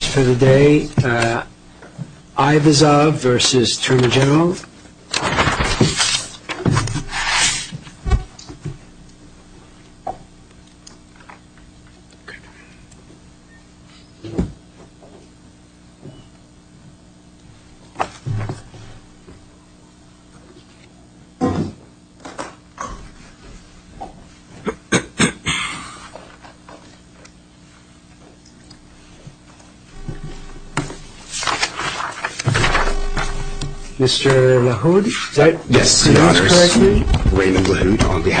Today, Abyvazov v. Termogenov Abyvazov v. Termogenov Before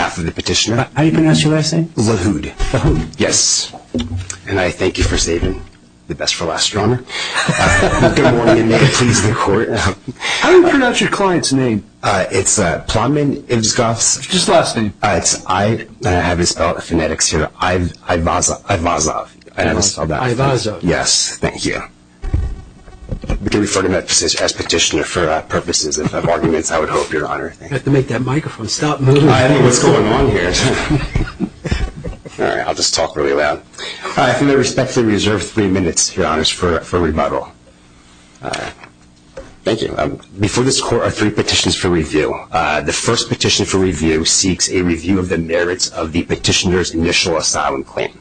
this court are three petitions for review. The first petition for review seeks a review of the merits of the petitioner's initial asylum claim.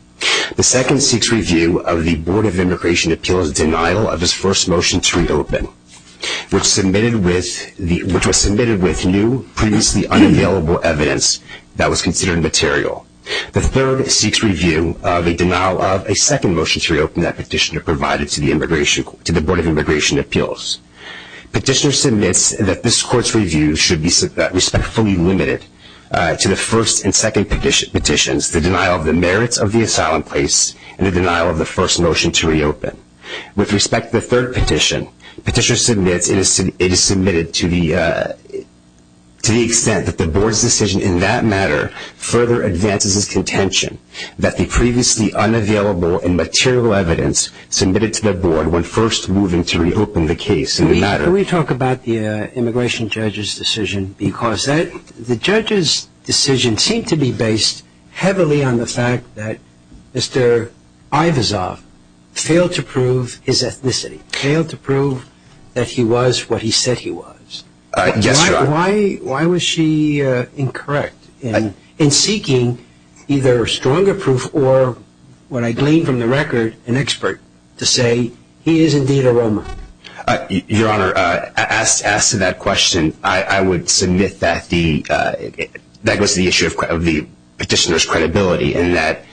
The second petition seeks review of the Board of Immigration Appeals' denial of his first motion to reopen, which was submitted with new, previously unavailable evidence that was considered material. The third petition seeks review of the denial of a second motion to reopen that petitioner provided to the Board of Immigration Appeals. Petitioner submits that this court's review should be respectfully limited to the first and second petitions, the denial of the merits of the asylum case, and the denial of the first motion to reopen. With respect to the third petition, petitioner submits it is submitted to the extent that the Board's decision in that matter further advances his contention that the previously unavailable and material evidence submitted to the Board when first moving to reopen the case in the matter. Can we talk about the immigration judge's decision? Because the judge's decision seemed to be based heavily on the fact that Mr. Abyvazov failed to prove his ethnicity, failed to prove that he was what he said he was. Yes, Your Honor. Why was she incorrect in seeking either stronger proof or, when I gleaned from the record, an expert to say he is indeed a Roman? Your Honor, as to that question, I would submit that goes to the issue of the petitioner's credibility and that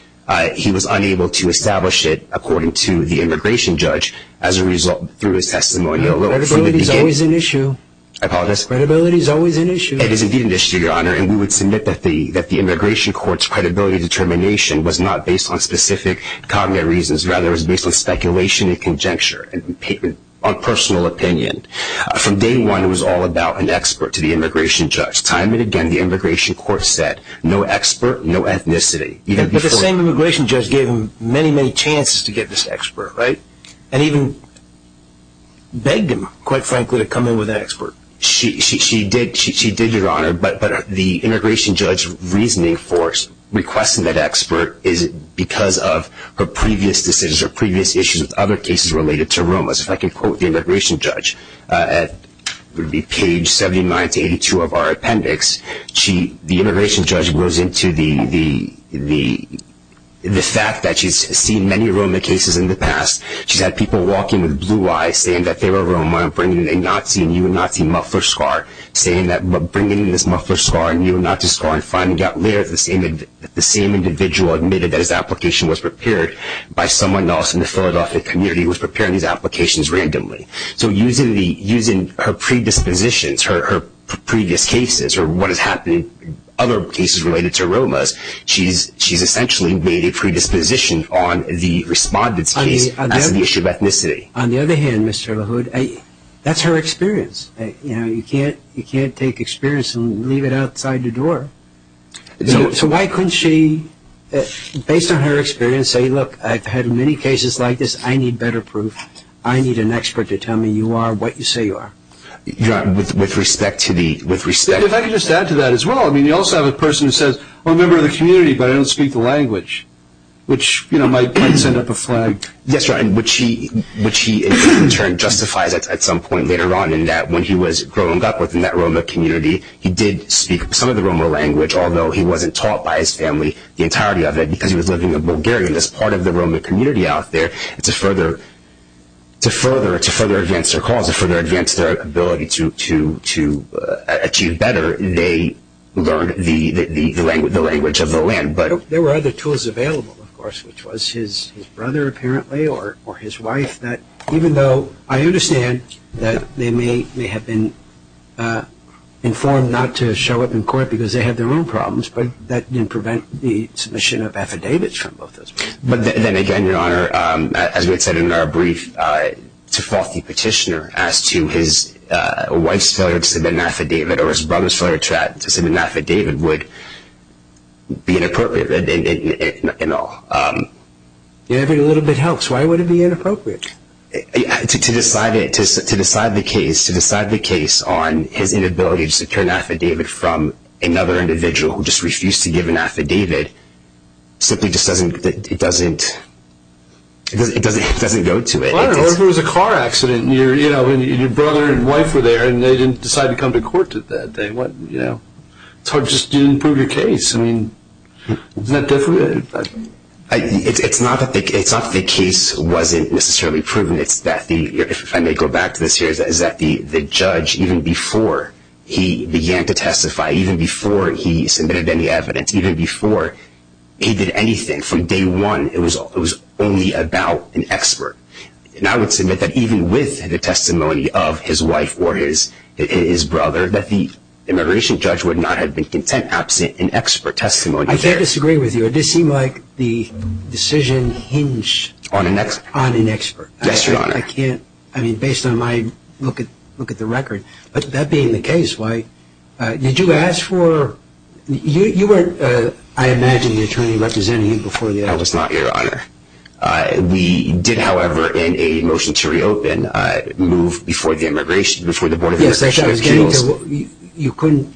he was unable to establish it according to the immigration judge as a result through his testimonial. Credibility is always an issue. I apologize? Credibility is always an issue. It is indeed an issue, Your Honor, and we would submit that the immigration court's credibility and determination was not based on specific cognitive reasons, rather it was based on speculation and conjecture and personal opinion. From day one, it was all about an expert to the immigration judge. Time and again, the immigration court said, no expert, no ethnicity. But the same immigration judge gave him many, many chances to get this expert, right? And even begged him, quite frankly, to come in with an expert. She did, Your Honor, but the immigration judge's reasoning for requesting that expert is because of her previous decisions or previous issues with other cases related to Romas. If I could quote the immigration judge at page 79 to 82 of our appendix, the immigration judge goes into the fact that she's seen many Roma cases in the past. She's had people walk in with blue eyes saying that they were a Roma and bringing in a Nazi and UNAZI muffler scar, saying that bringing in this muffler scar and UNAZI scar and finding out later that the same individual admitted that his application was prepared by someone else in the Philadelphia community who was preparing these applications randomly. So using her predispositions, her previous cases or what has happened in other cases related to Romas, she's essentially made a predisposition on the respondent's case. On the other hand, Mr. LaHood, that's her experience. You can't take experience and leave it outside the door. So why couldn't she, based on her experience, say, look, I've had many cases like this. I need better proof. I need an expert to tell me you are what you say you are. With respect to the – If I could just add to that as well. I mean, you also have a person who says, I'm a member of the community, but I don't speak the language, which might send up a flag. Yes, right, which he, in turn, justifies at some point later on in that when he was growing up within that Roma community, he did speak some of the Roma language, although he wasn't taught by his family, the entirety of it, because he was living in Bulgaria. And as part of the Roma community out there, to further advance their cause, to further advance their ability to achieve better, they learned the language of the land. There were other tools available, of course, which was his brother, apparently, or his wife, that even though I understand that they may have been informed not to show up in court because they had their own problems, but that didn't prevent the submission of affidavits from both those people. But then again, Your Honor, as we had said in our brief, to fault the petitioner as to his wife's failure to submit an affidavit or his brother's failure to submit an affidavit would be inappropriate in all. If every little bit helps, why would it be inappropriate? To decide the case on his inability to secure an affidavit from another individual who just refused to give an affidavit simply just doesn't go to it. Or if it was a car accident and your brother and wife were there and they didn't decide to come to court that day. It's hard just to prove your case. Isn't that different? It's not that the case wasn't necessarily proven. If I may go back to this here, the judge, even before he began to testify, even before he submitted any evidence, even before he did anything from day one, it was only about an expert. And I would submit that even with the testimony of his wife or his brother, that the immigration judge would not have been content absent an expert testimony. I can't disagree with you. It did seem like the decision hinged on an expert. Yes, Your Honor. I can't, I mean, based on my look at the record. But that being the case, why, did you ask for, you weren't, I imagine, the attorney representing him before the evidence. I was not, Your Honor. We did, however, in a motion to reopen, move before the immigration, before the Board of Immigration Appeals. You couldn't,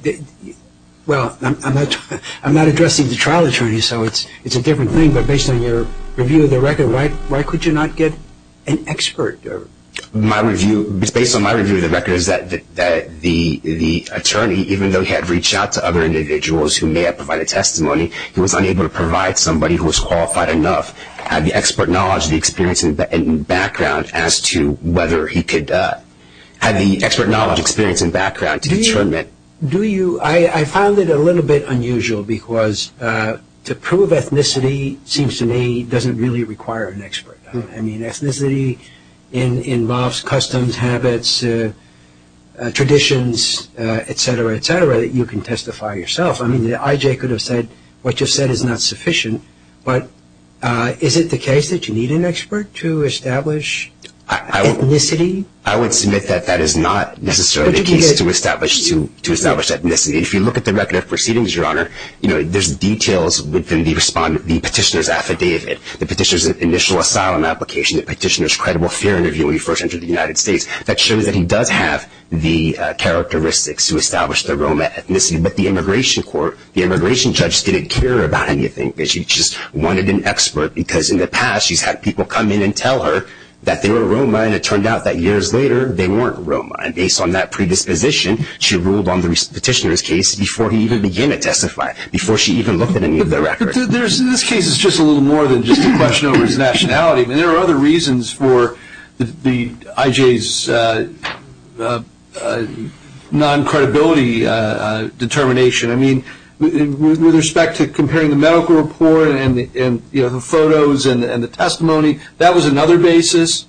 well, I'm not addressing the trial attorney, so it's a different thing. But based on your review of the record, why could you not get an expert? My review, based on my review of the record, is that the attorney, even though he had reached out to other individuals who may have provided testimony, he was unable to provide somebody who was qualified enough, had the expert knowledge, the experience and background as to whether he could, had the expert knowledge, experience and background to determine. Do you, do you, I found it a little bit unusual because to prove ethnicity, seems to me, doesn't really require an expert. I mean, ethnicity involves customs, habits, traditions, et cetera, et cetera, that you can testify yourself. I mean, the IJ could have said, what you've said is not sufficient, but is it the case that you need an expert to establish ethnicity? I would submit that that is not necessarily the case to establish, to establish ethnicity. If you look at the record of proceedings, Your Honor, you know, there's details within the respondent, the petitioner's affidavit, the petitioner's initial asylum application, the petitioner's credible fear interview when he first entered the United States, that shows that he does have the characteristics to establish the Roma ethnicity. But the immigration court, the immigration judge didn't care about anything. She just wanted an expert because in the past, she's had people come in and tell her that they were Roma, and it turned out that years later, they weren't Roma. And based on that predisposition, she ruled on the petitioner's case before he even began to testify, before she even looked at any of the records. There's, in this case, it's just a little more than just a question over his nationality. There are other reasons for the IJ's non-credibility determination. I mean, with respect to comparing the medical report and the photos and the testimony, that was another basis.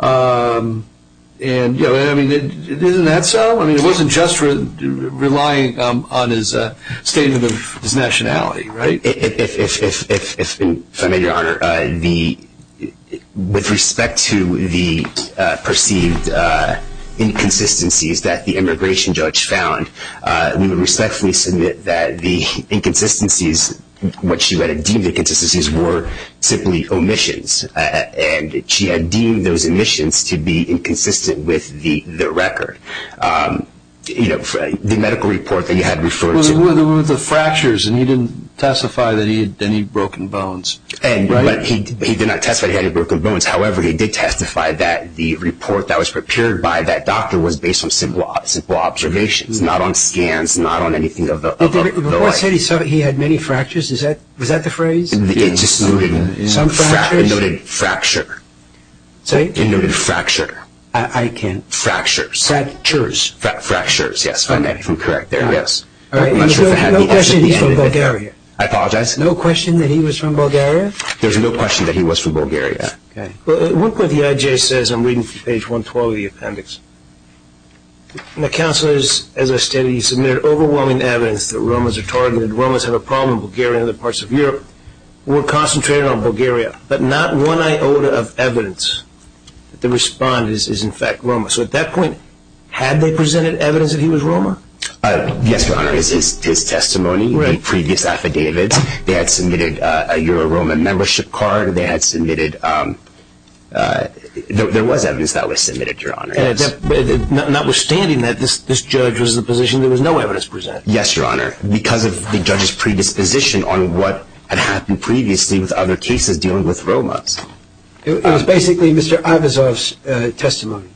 And, you know, I mean, isn't that so? I mean, it wasn't just relying on his statement of his nationality, right? If I may, Your Honor, with respect to the perceived inconsistencies that the immigration judge found, we would respectfully submit that the inconsistencies, what she had deemed inconsistencies, were simply omissions. And she had deemed those omissions to be inconsistent with the record. You know, the medical report that you had referred to. It was the fractures, and he didn't testify that he had any broken bones, right? He did not testify that he had any broken bones. However, he did testify that the report that was prepared by that doctor was based on simple observations, not on scans, not on anything of the like. The report said he had many fractures. Was that the phrase? It just noted fracture. It noted fracture. I can't… Fractures. Fractures, yes. All right. No question that he's from Bulgaria. I apologize. No question that he was from Bulgaria? There's no question that he was from Bulgaria. Okay. Well, at one point the IJ says, I'm reading from page 112 of the appendix, my counsel is, as I stated, he submitted overwhelming evidence that Romans are targeted. Romans have a problem in Bulgaria and other parts of Europe. We're concentrated on Bulgaria, but not one iota of evidence that the respondent is, in fact, Roman. So at that point, had they presented evidence that he was Roman? Yes, Your Honor. It's his testimony, the previous affidavits. They had submitted a Euro-Roman membership card. They had submitted – there was evidence that was submitted, Your Honor. Notwithstanding that this judge was in the position there was no evidence presented? Yes, Your Honor, because of the judge's predisposition on what had happened previously with other cases dealing with Romans. It was basically Mr. Ivazov's testimony.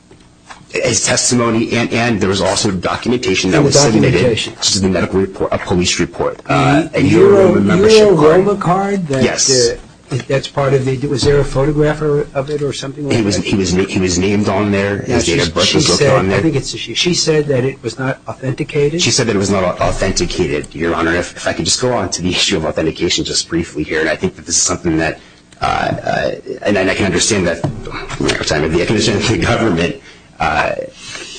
His testimony, and there was also documentation that was submitted to the medical report, a police report. A Euro-Roman membership card. A Euro-Roman card? Yes. That's part of the – was there a photographer of it or something like that? He was named on there. She said that it was not authenticated? She said that it was not authenticated, Your Honor. If I could just go on to the issue of authentication just briefly here, and I think that this is something that – and I can understand that, Your Honor, the recognition of the government,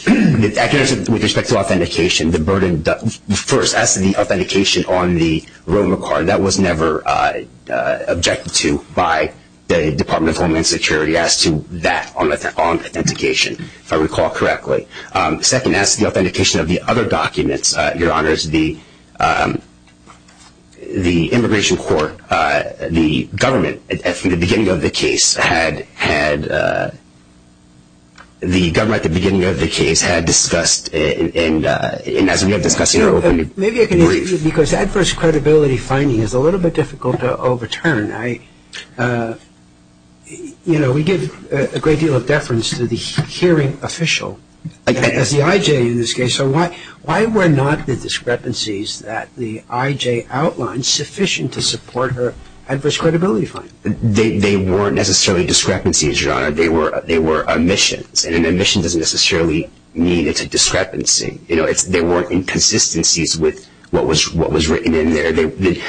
the recognition with respect to authentication, the burden. First, as to the authentication on the Roman card, that was never objected to by the Department of Homeland Security as to that on authentication, if I recall correctly. Second, as to the authentication of the other documents, Your Honor, the immigration court, the government from the beginning of the case had – the government at the beginning of the case had discussed, and as we have discussed in our opening brief. Maybe I can interrupt you because adverse credibility finding is a little bit difficult to overturn. I – you know, we give a great deal of deference to the hearing official, as the I.J. in this case. So why were not the discrepancies that the I.J. outlined sufficient to support her adverse credibility finding? They weren't necessarily discrepancies, Your Honor. They were omissions, and an omission doesn't necessarily mean it's a discrepancy. You know, they weren't inconsistencies with what was written in there.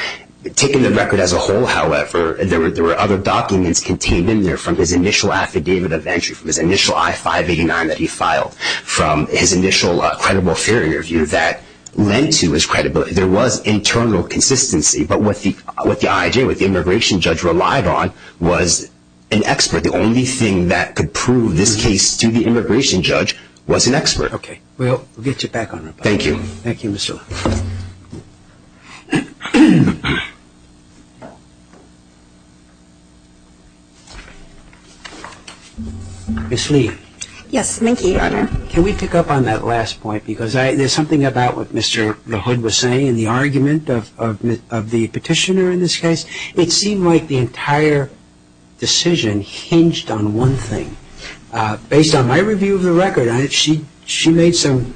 Taken the record as a whole, however, there were other documents contained in there from his initial affidavit of entry, from his initial I-589 that he filed, from his initial credible fear interview that lent to his credibility. There was internal consistency, but what the I.J., what the immigration judge relied on, was an expert. The only thing that could prove this case to the immigration judge was an expert. Okay. We'll get you back on it. Thank you. Thank you, Mr. LaHood. Ms. Lee. Yes. Thank you, Your Honor. Can we pick up on that last point? Because there's something about what Mr. LaHood was saying in the argument of the petitioner in this case. It seemed like the entire decision hinged on one thing. Based on my review of the record, she made some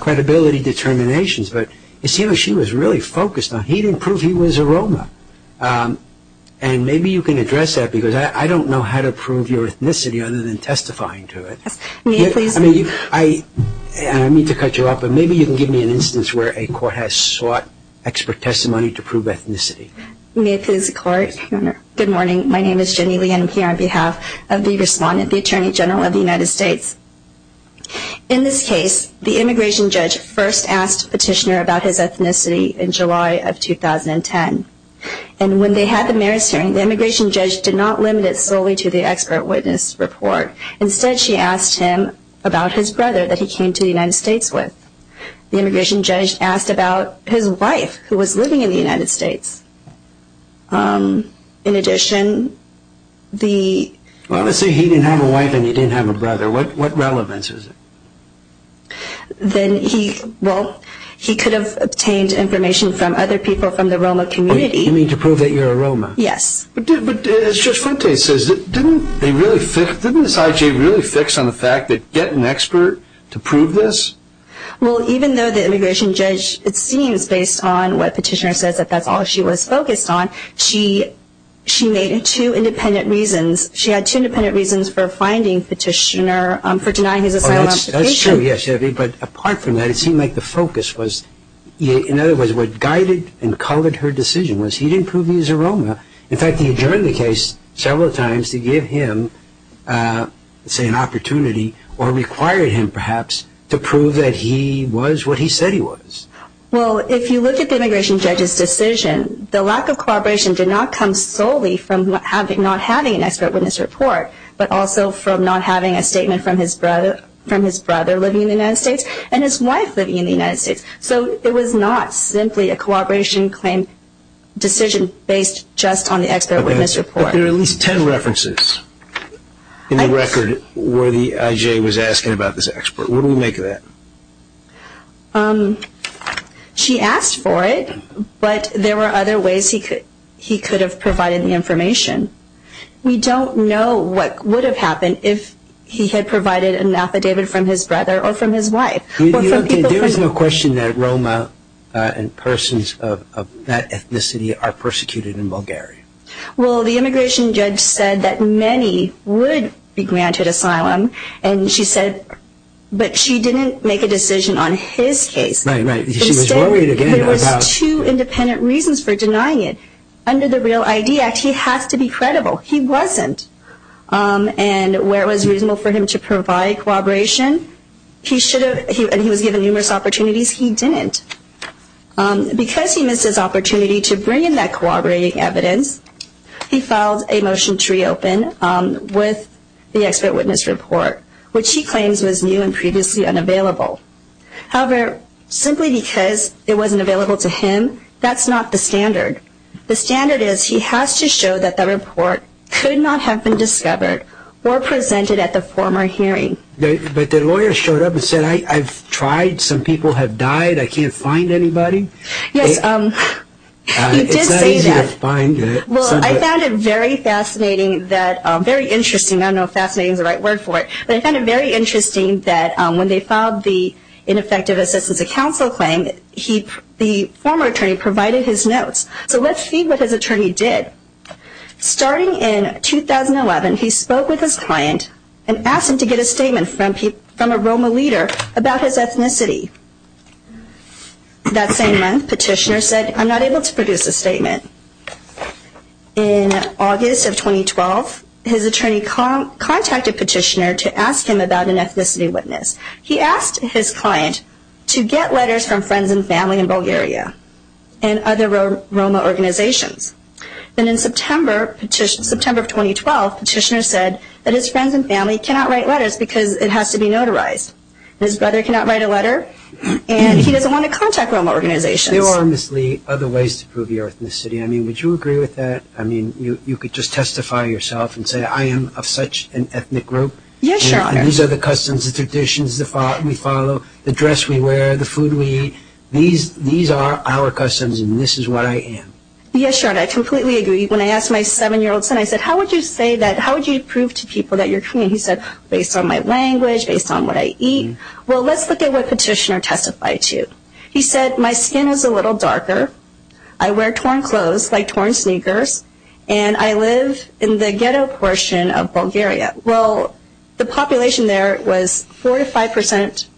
credibility determinations, but it seemed like she was really focused on he didn't prove he was a Roma. And maybe you can address that because I don't know how to prove your ethnicity other than testifying to it. May I please? I mean, I need to cut you off, but maybe you can give me an instance where a court has sought expert testimony to prove ethnicity. May I please, Your Honor? Good morning. My name is Jenny Lee and I'm here on behalf of the respondent, the Attorney General of the United States. In this case, the immigration judge first asked the petitioner about his ethnicity in July of 2010. And when they had the marriage hearing, the immigration judge did not limit it solely to the expert witness report. Instead, she asked him about his brother that he came to the United States with. The immigration judge asked about his wife who was living in the United States. In addition, the... Well, let's say he didn't have a wife and he didn't have a brother. What relevance is it? Then he, well, he could have obtained information from other people from the Roma community. You mean to prove that you're a Roma? Yes. But as Judge Fuentes says, didn't they really fix, didn't this IG really fix on the fact that get an expert to prove this? Well, even though the immigration judge, it seems, based on what petitioner says that that's all she was focused on, she made two independent reasons. She had two independent reasons for finding petitioner for denying his asylum application. That's true, yes, but apart from that, it seemed like the focus was, in other words, what guided and colored her decision was he didn't prove he was a Roma. In fact, he adjourned the case several times to give him, say, an opportunity or required him, perhaps, to prove that he was what he said he was. Well, if you look at the immigration judge's decision, the lack of cooperation did not come solely from not having an expert witness report, but also from not having a statement from his brother living in the United States and his wife living in the United States. So it was not simply a cooperation claim decision based just on the expert witness report. There are at least ten references in the record where the IJ was asking about this expert. Where do we make that? She asked for it, but there were other ways he could have provided the information. We don't know what would have happened if he had provided an affidavit from his brother or from his wife. There is no question that Roma and persons of that ethnicity are persecuted in Bulgaria. Well, the immigration judge said that many would be granted asylum, but she didn't make a decision on his case. Right, right. She was worried, again, about... There were two independent reasons for denying it. Under the REAL ID Act, he has to be credible. He wasn't. And where it was reasonable for him to provide cooperation, and he was given numerous opportunities, he didn't. Because he missed his opportunity to bring in that cooperating evidence, he filed a motion to reopen with the expert witness report, which he claims was new and previously unavailable. However, simply because it wasn't available to him, that's not the standard. The standard is he has to show that the report could not have been discovered or presented at the former hearing. But the lawyer showed up and said, I've tried. Some people have died. I can't find anybody. He did say that. It's not easy to find. Well, I found it very fascinating, very interesting. I don't know if fascinating is the right word for it. But I found it very interesting that when they filed the ineffective assistance to counsel claim, the former attorney provided his notes. So let's see what his attorney did. Starting in 2011, he spoke with his client and asked him to get a statement from a ROMA leader about his ethnicity. That same month, Petitioner said, I'm not able to produce a statement. In August of 2012, his attorney contacted Petitioner to ask him about an ethnicity witness. He asked his client to get letters from friends and family in Bulgaria and other ROMA organizations. And in September of 2012, Petitioner said that his friends and family cannot write letters because it has to be notarized. His brother cannot write a letter. And he doesn't want to contact ROMA organizations. There are obviously other ways to prove your ethnicity. I mean, would you agree with that? I mean, you could just testify yourself and say, I am of such an ethnic group. Yes, Your Honor. These are the customs, the traditions we follow, the dress we wear, the food we eat. These are our customs, and this is what I am. Yes, Your Honor, I completely agree. When I asked my 7-year-old son, I said, how would you say that, how would you prove to people that you're Korean? He said, based on my language, based on what I eat. Well, let's look at what Petitioner testified to. He said, my skin is a little darker, I wear torn clothes like torn sneakers, and I live in the ghetto portion of Bulgaria. Well, the population there was 45%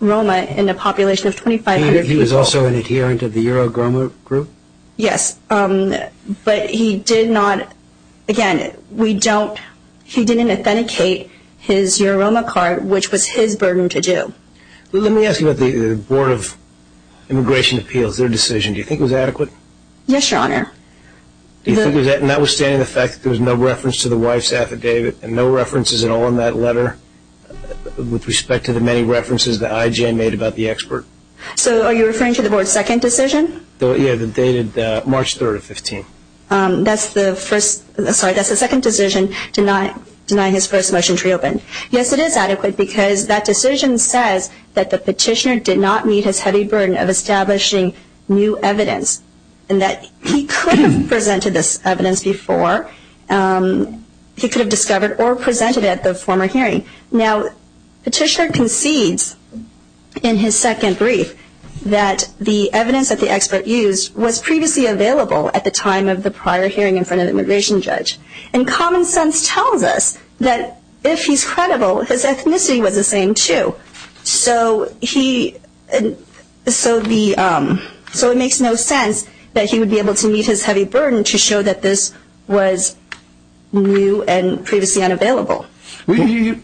ROMA and a population of 2,500 people. He was also an adherent of the Eurograma group? Yes, but he did not, again, he didn't authenticate his Eurograma card, which was his burden to do. Let me ask you about the Board of Immigration Appeals, their decision. Do you think it was adequate? Yes, Your Honor. Notwithstanding the fact that there was no reference to the wife's affidavit and no references at all in that letter with respect to the many references that I.J. made about the expert? So are you referring to the Board's second decision? Yeah, the dated March 3rd of 2015. That's the second decision, deny his first motion to reopen. Yes, it is adequate because that decision says that the Petitioner did not meet his heavy burden of establishing new evidence and that he could have presented this evidence before. He could have discovered or presented it at the former hearing. Now, Petitioner concedes in his second brief that the evidence that the expert used was previously available at the time of the prior hearing in front of the immigration judge. And common sense tells us that if he's credible, his ethnicity was the same too. So it makes no sense that he would be able to meet his heavy burden to show that this was new and previously unavailable. To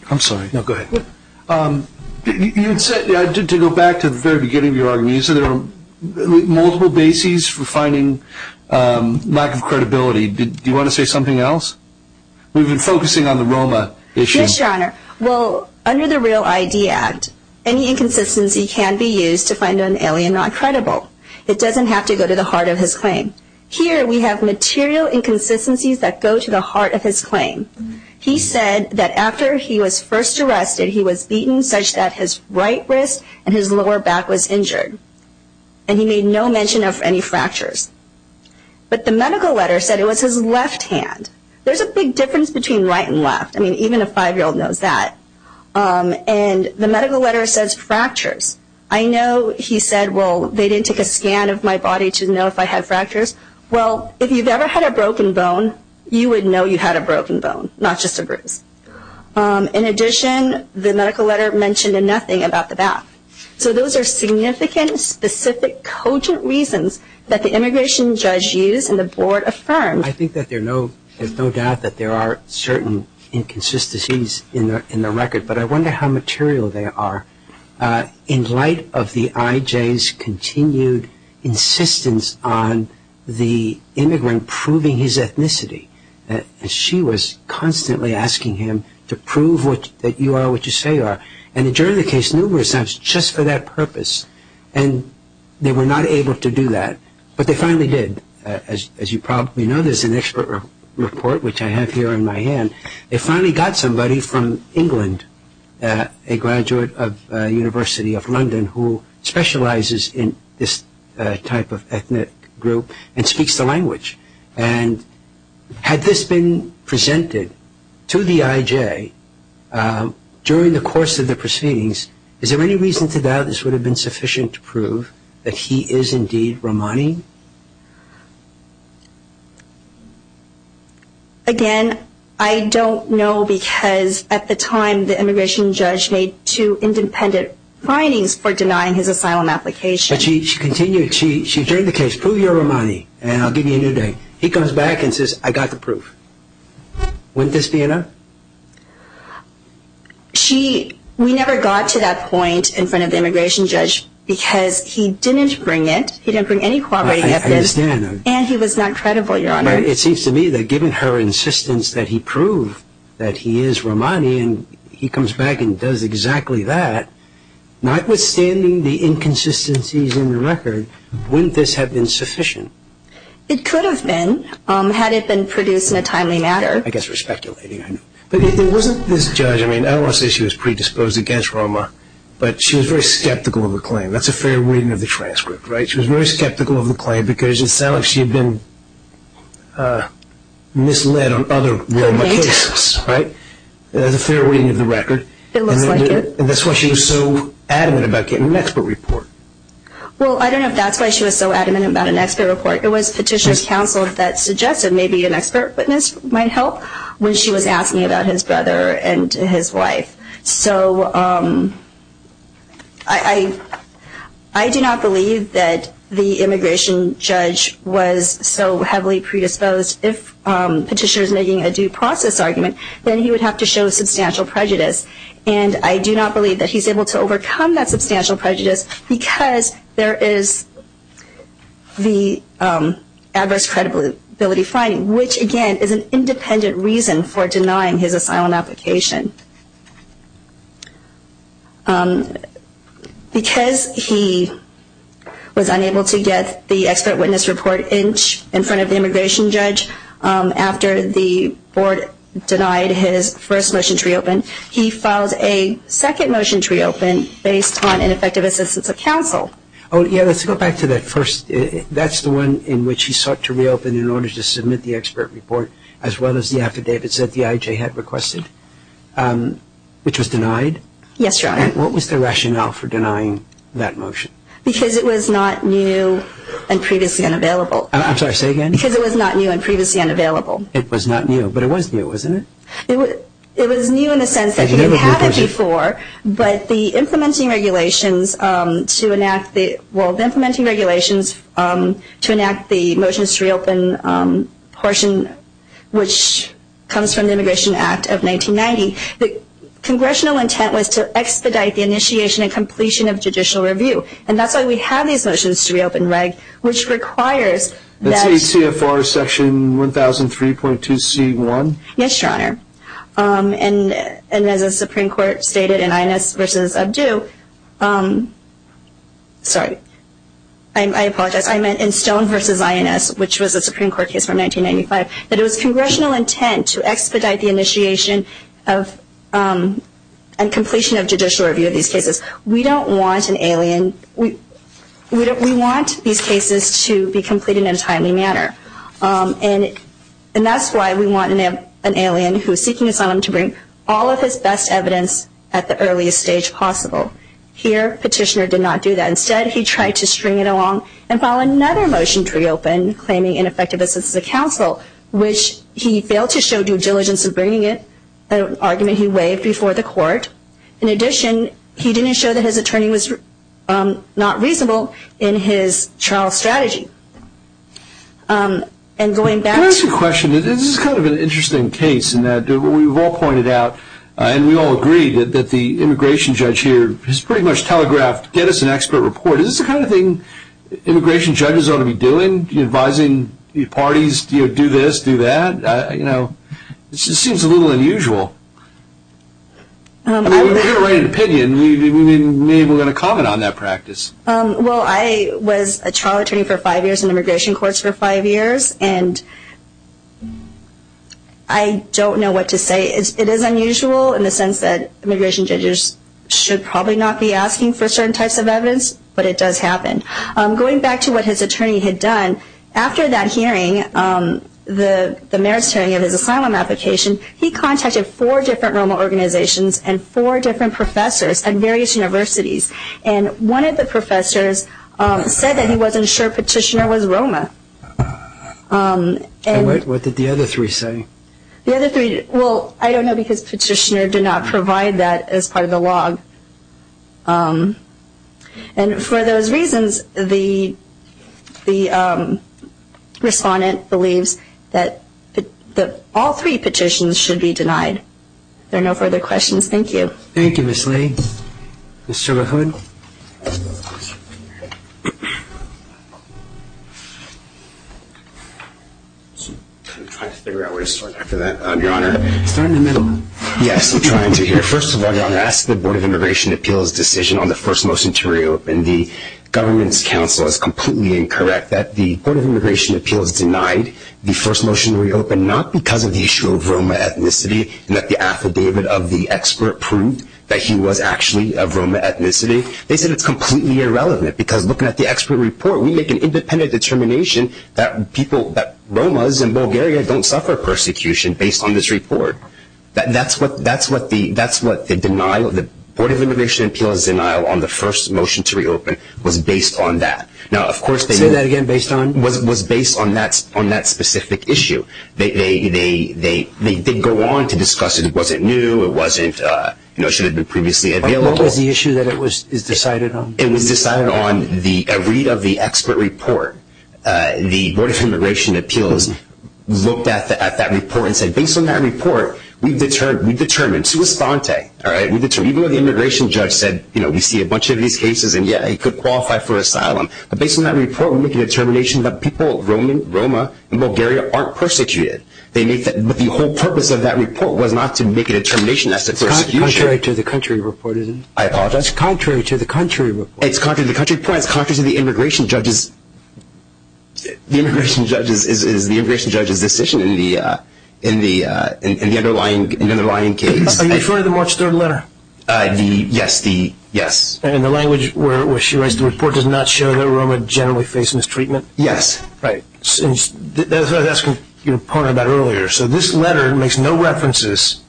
go back to the very beginning of your argument, you said there were multiple bases for finding lack of credibility. Do you want to say something else? We've been focusing on the ROMA issue. Yes, Your Honor. Well, under the REAL ID Act, any inconsistency can be used to find an alien not credible. It doesn't have to go to the heart of his claim. Here we have material inconsistencies that go to the heart of his claim. He said that after he was first arrested, he was beaten such that his right wrist and his lower back was injured. And he made no mention of any fractures. But the medical letter said it was his left hand. There's a big difference between right and left. I mean, even a five-year-old knows that. And the medical letter says fractures. I know he said, well, they didn't take a scan of my body to know if I had fractures. Well, if you've ever had a broken bone, you would know you had a broken bone, not just a bruise. In addition, the medical letter mentioned nothing about the bath. So those are significant, specific, cogent reasons that the immigration judge used and the board affirmed. I think that there's no doubt that there are certain inconsistencies in the record, but I wonder how material they are. In light of the IJ's continued insistence on the immigrant proving his ethnicity, she was constantly asking him to prove that you are what you say you are. And during the case, numerous times, just for that purpose. And they were not able to do that, but they finally did. As you probably know, there's an expert report, which I have here in my hand. And they finally got somebody from England, a graduate of University of London, who specializes in this type of ethnic group and speaks the language. And had this been presented to the IJ during the course of the proceedings, is there any reason to doubt this would have been sufficient to prove that he is indeed Romani? Again, I don't know because at the time the immigration judge made two independent findings for denying his asylum application. But she continued, she adjourned the case, prove you're Romani and I'll give you a new name. He comes back and says, I got the proof. Wouldn't this be enough? We never got to that point in front of the immigration judge because he didn't bring it, he didn't bring any corroborating evidence. I understand. And he was not credible, Your Honor. But it seems to me that given her insistence that he prove that he is Romani and he comes back and does exactly that, notwithstanding the inconsistencies in the record, wouldn't this have been sufficient? It could have been, had it been produced in a timely manner. I guess we're speculating. But if it wasn't this judge, I mean, I don't want to say she was predisposed against Roma, but she was very skeptical of the claim. That's a fair reading of the transcript, right? She was very skeptical of the claim because it sounds like she had been misled on other Roma cases, right? That's a fair reading of the record. It looks like it. And that's why she was so adamant about getting an expert report. Well, I don't know if that's why she was so adamant about an expert report. It was Petitioner's Counsel that suggested maybe an expert witness might help when she was asking about his brother and his wife. So I do not believe that the immigration judge was so heavily predisposed. If Petitioner is making a due process argument, then he would have to show substantial prejudice. And I do not believe that he's able to overcome that substantial prejudice because there is the adverse credibility finding, which again is an independent reason for denying his asylum application. Because he was unable to get the expert witness report in front of the immigration judge after the board denied his first motion to reopen, he filed a second motion to reopen based on ineffective assistance of counsel. Oh, yeah, let's go back to that first. That's the one in which he sought to reopen in order to submit the expert report as well as the affidavits that the IJ had requested, which was denied? Yes, Your Honor. What was the rationale for denying that motion? Because it was not new and previously unavailable. I'm sorry, say again? Because it was not new and previously unavailable. It was not new, but it was new, wasn't it? It was new in the sense that he had had it before, but the implementing regulations to enact the motions to reopen portion, which comes from the Immigration Act of 1990, the congressional intent was to expedite the initiation and completion of judicial review. And that's why we have these motions to reopen reg, which requires that… That's ACFR Section 1003.2C1? Yes, Your Honor. And as the Supreme Court stated in Stone v. INS, which was a Supreme Court case from 1995, that it was congressional intent to expedite the initiation and completion of judicial review of these cases. We don't want an alien. We want these cases to be completed in a timely manner. And that's why we want an alien who is seeking asylum to bring all of his best evidence at the earliest stage possible. Here, Petitioner did not do that. Instead, he tried to string it along and file another motion to reopen, claiming ineffective assistance of counsel, which he failed to show due diligence in bringing it, an argument he waived before the court. In addition, he didn't show that his attorney was not reasonable in his trial strategy. And going back to… Can I ask you a question? This is kind of an interesting case in that we've all pointed out, and we all agree, that the immigration judge here has pretty much telegraphed, get us an expert report. Is this the kind of thing immigration judges ought to be doing? Do you advise parties, do this, do that? You know, it just seems a little unusual. I mean, we hear a right opinion. Maybe we're going to comment on that practice. Well, I was a trial attorney for five years in immigration courts for five years, and I don't know what to say. It is unusual in the sense that immigration judges should probably not be asking for certain types of evidence, but it does happen. Going back to what his attorney had done, after that hearing, the merits hearing of his asylum application, he contacted four different ROMA organizations and four different professors at various universities. And one of the professors said that he wasn't sure Petitioner was ROMA. And what did the other three say? The other three, well, I don't know, because Petitioner did not provide that as part of the log. And for those reasons, the respondent believes that all three petitions should be denied. There are no further questions. Thank you. Thank you, Ms. Lee. Mr. LaHood. I'm trying to figure out where to start after that, Your Honor. Start in the middle. Yes, I'm trying to here. First of all, Your Honor, I ask the Board of Immigration Appeals decision on the first motion to reopen. The government's counsel is completely incorrect that the Board of Immigration Appeals denied the first motion to reopen, not because of the issue of ROMA ethnicity, and that the affidavit of the expert proved that he was actually of ROMA ethnicity. They said it's completely irrelevant, because looking at the expert report, we make an independent determination that ROMAs in Bulgaria don't suffer persecution based on this report. That's what the denial of the Board of Immigration Appeals' denial on the first motion to reopen was based on that. Say that again, based on? Was based on that specific issue. They did go on to discuss it. It wasn't new. It wasn't, you know, it should have been previously available. What was the issue that it was decided on? It was decided on a read of the expert report. The Board of Immigration Appeals looked at that report and said, based on that report, we've determined, sui sponte, all right, we've determined, even though the immigration judge said, you know, we see a bunch of these cases, and, yeah, he could qualify for asylum. But based on that report, we make a determination that people of ROMA in Bulgaria aren't persecuted. But the whole purpose of that report was not to make a determination as to persecution. It's contrary to the country report, isn't it? I apologize. It's contrary to the country report. It's contrary to the country report. It's contrary to the immigration judge's decision in the underlying case. Are you referring to the March 3rd letter? Yes. In the language where she writes, the report does not show that ROMA generally face mistreatment? Yes. Right. That's what I was asking your opponent about earlier. So this letter makes no references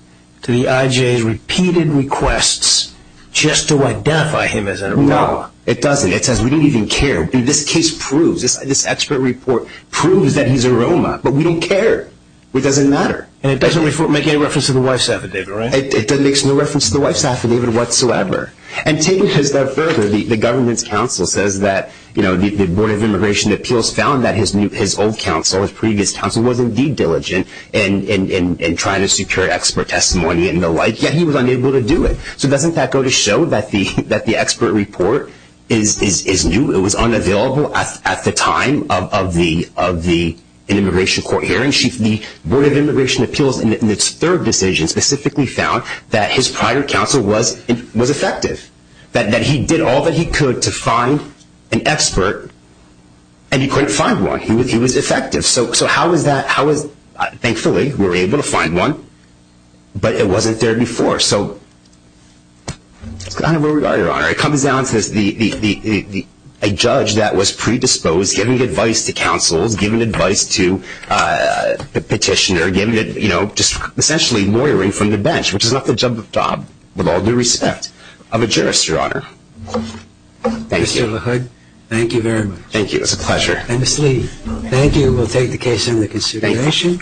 to the IJA's repeated requests just to identify him as a ROMA. No, it doesn't. It says we don't even care. This case proves, this expert report proves that he's a ROMA, but we don't care. It doesn't matter. And it doesn't make any reference to the wife's affidavit, right? It makes no reference to the wife's affidavit whatsoever. And taking it a step further, the government's counsel says that, you know, the Board of Immigration Appeals found that his old counsel, his previous counsel, was indeed diligent in trying to secure expert testimony and the like, yet he was unable to do it. So doesn't that go to show that the expert report is new? It was unavailable at the time of the immigration court hearing. The Board of Immigration Appeals in its third decision specifically found that his prior counsel was effective, that he did all that he could to find an expert, and he couldn't find one. He was effective. So how is that? Thankfully, we were able to find one, but it wasn't there before. It comes down to a judge that was predisposed, giving advice to counsels, giving advice to the petitioner, giving it, you know, essentially lawyering from the bench, which is not the job with all due respect of a jurist, Your Honor. Thank you. Mr. LaHood, thank you very much. Thank you. It was a pleasure. And, Ms. Lee, thank you. We'll take the case into consideration.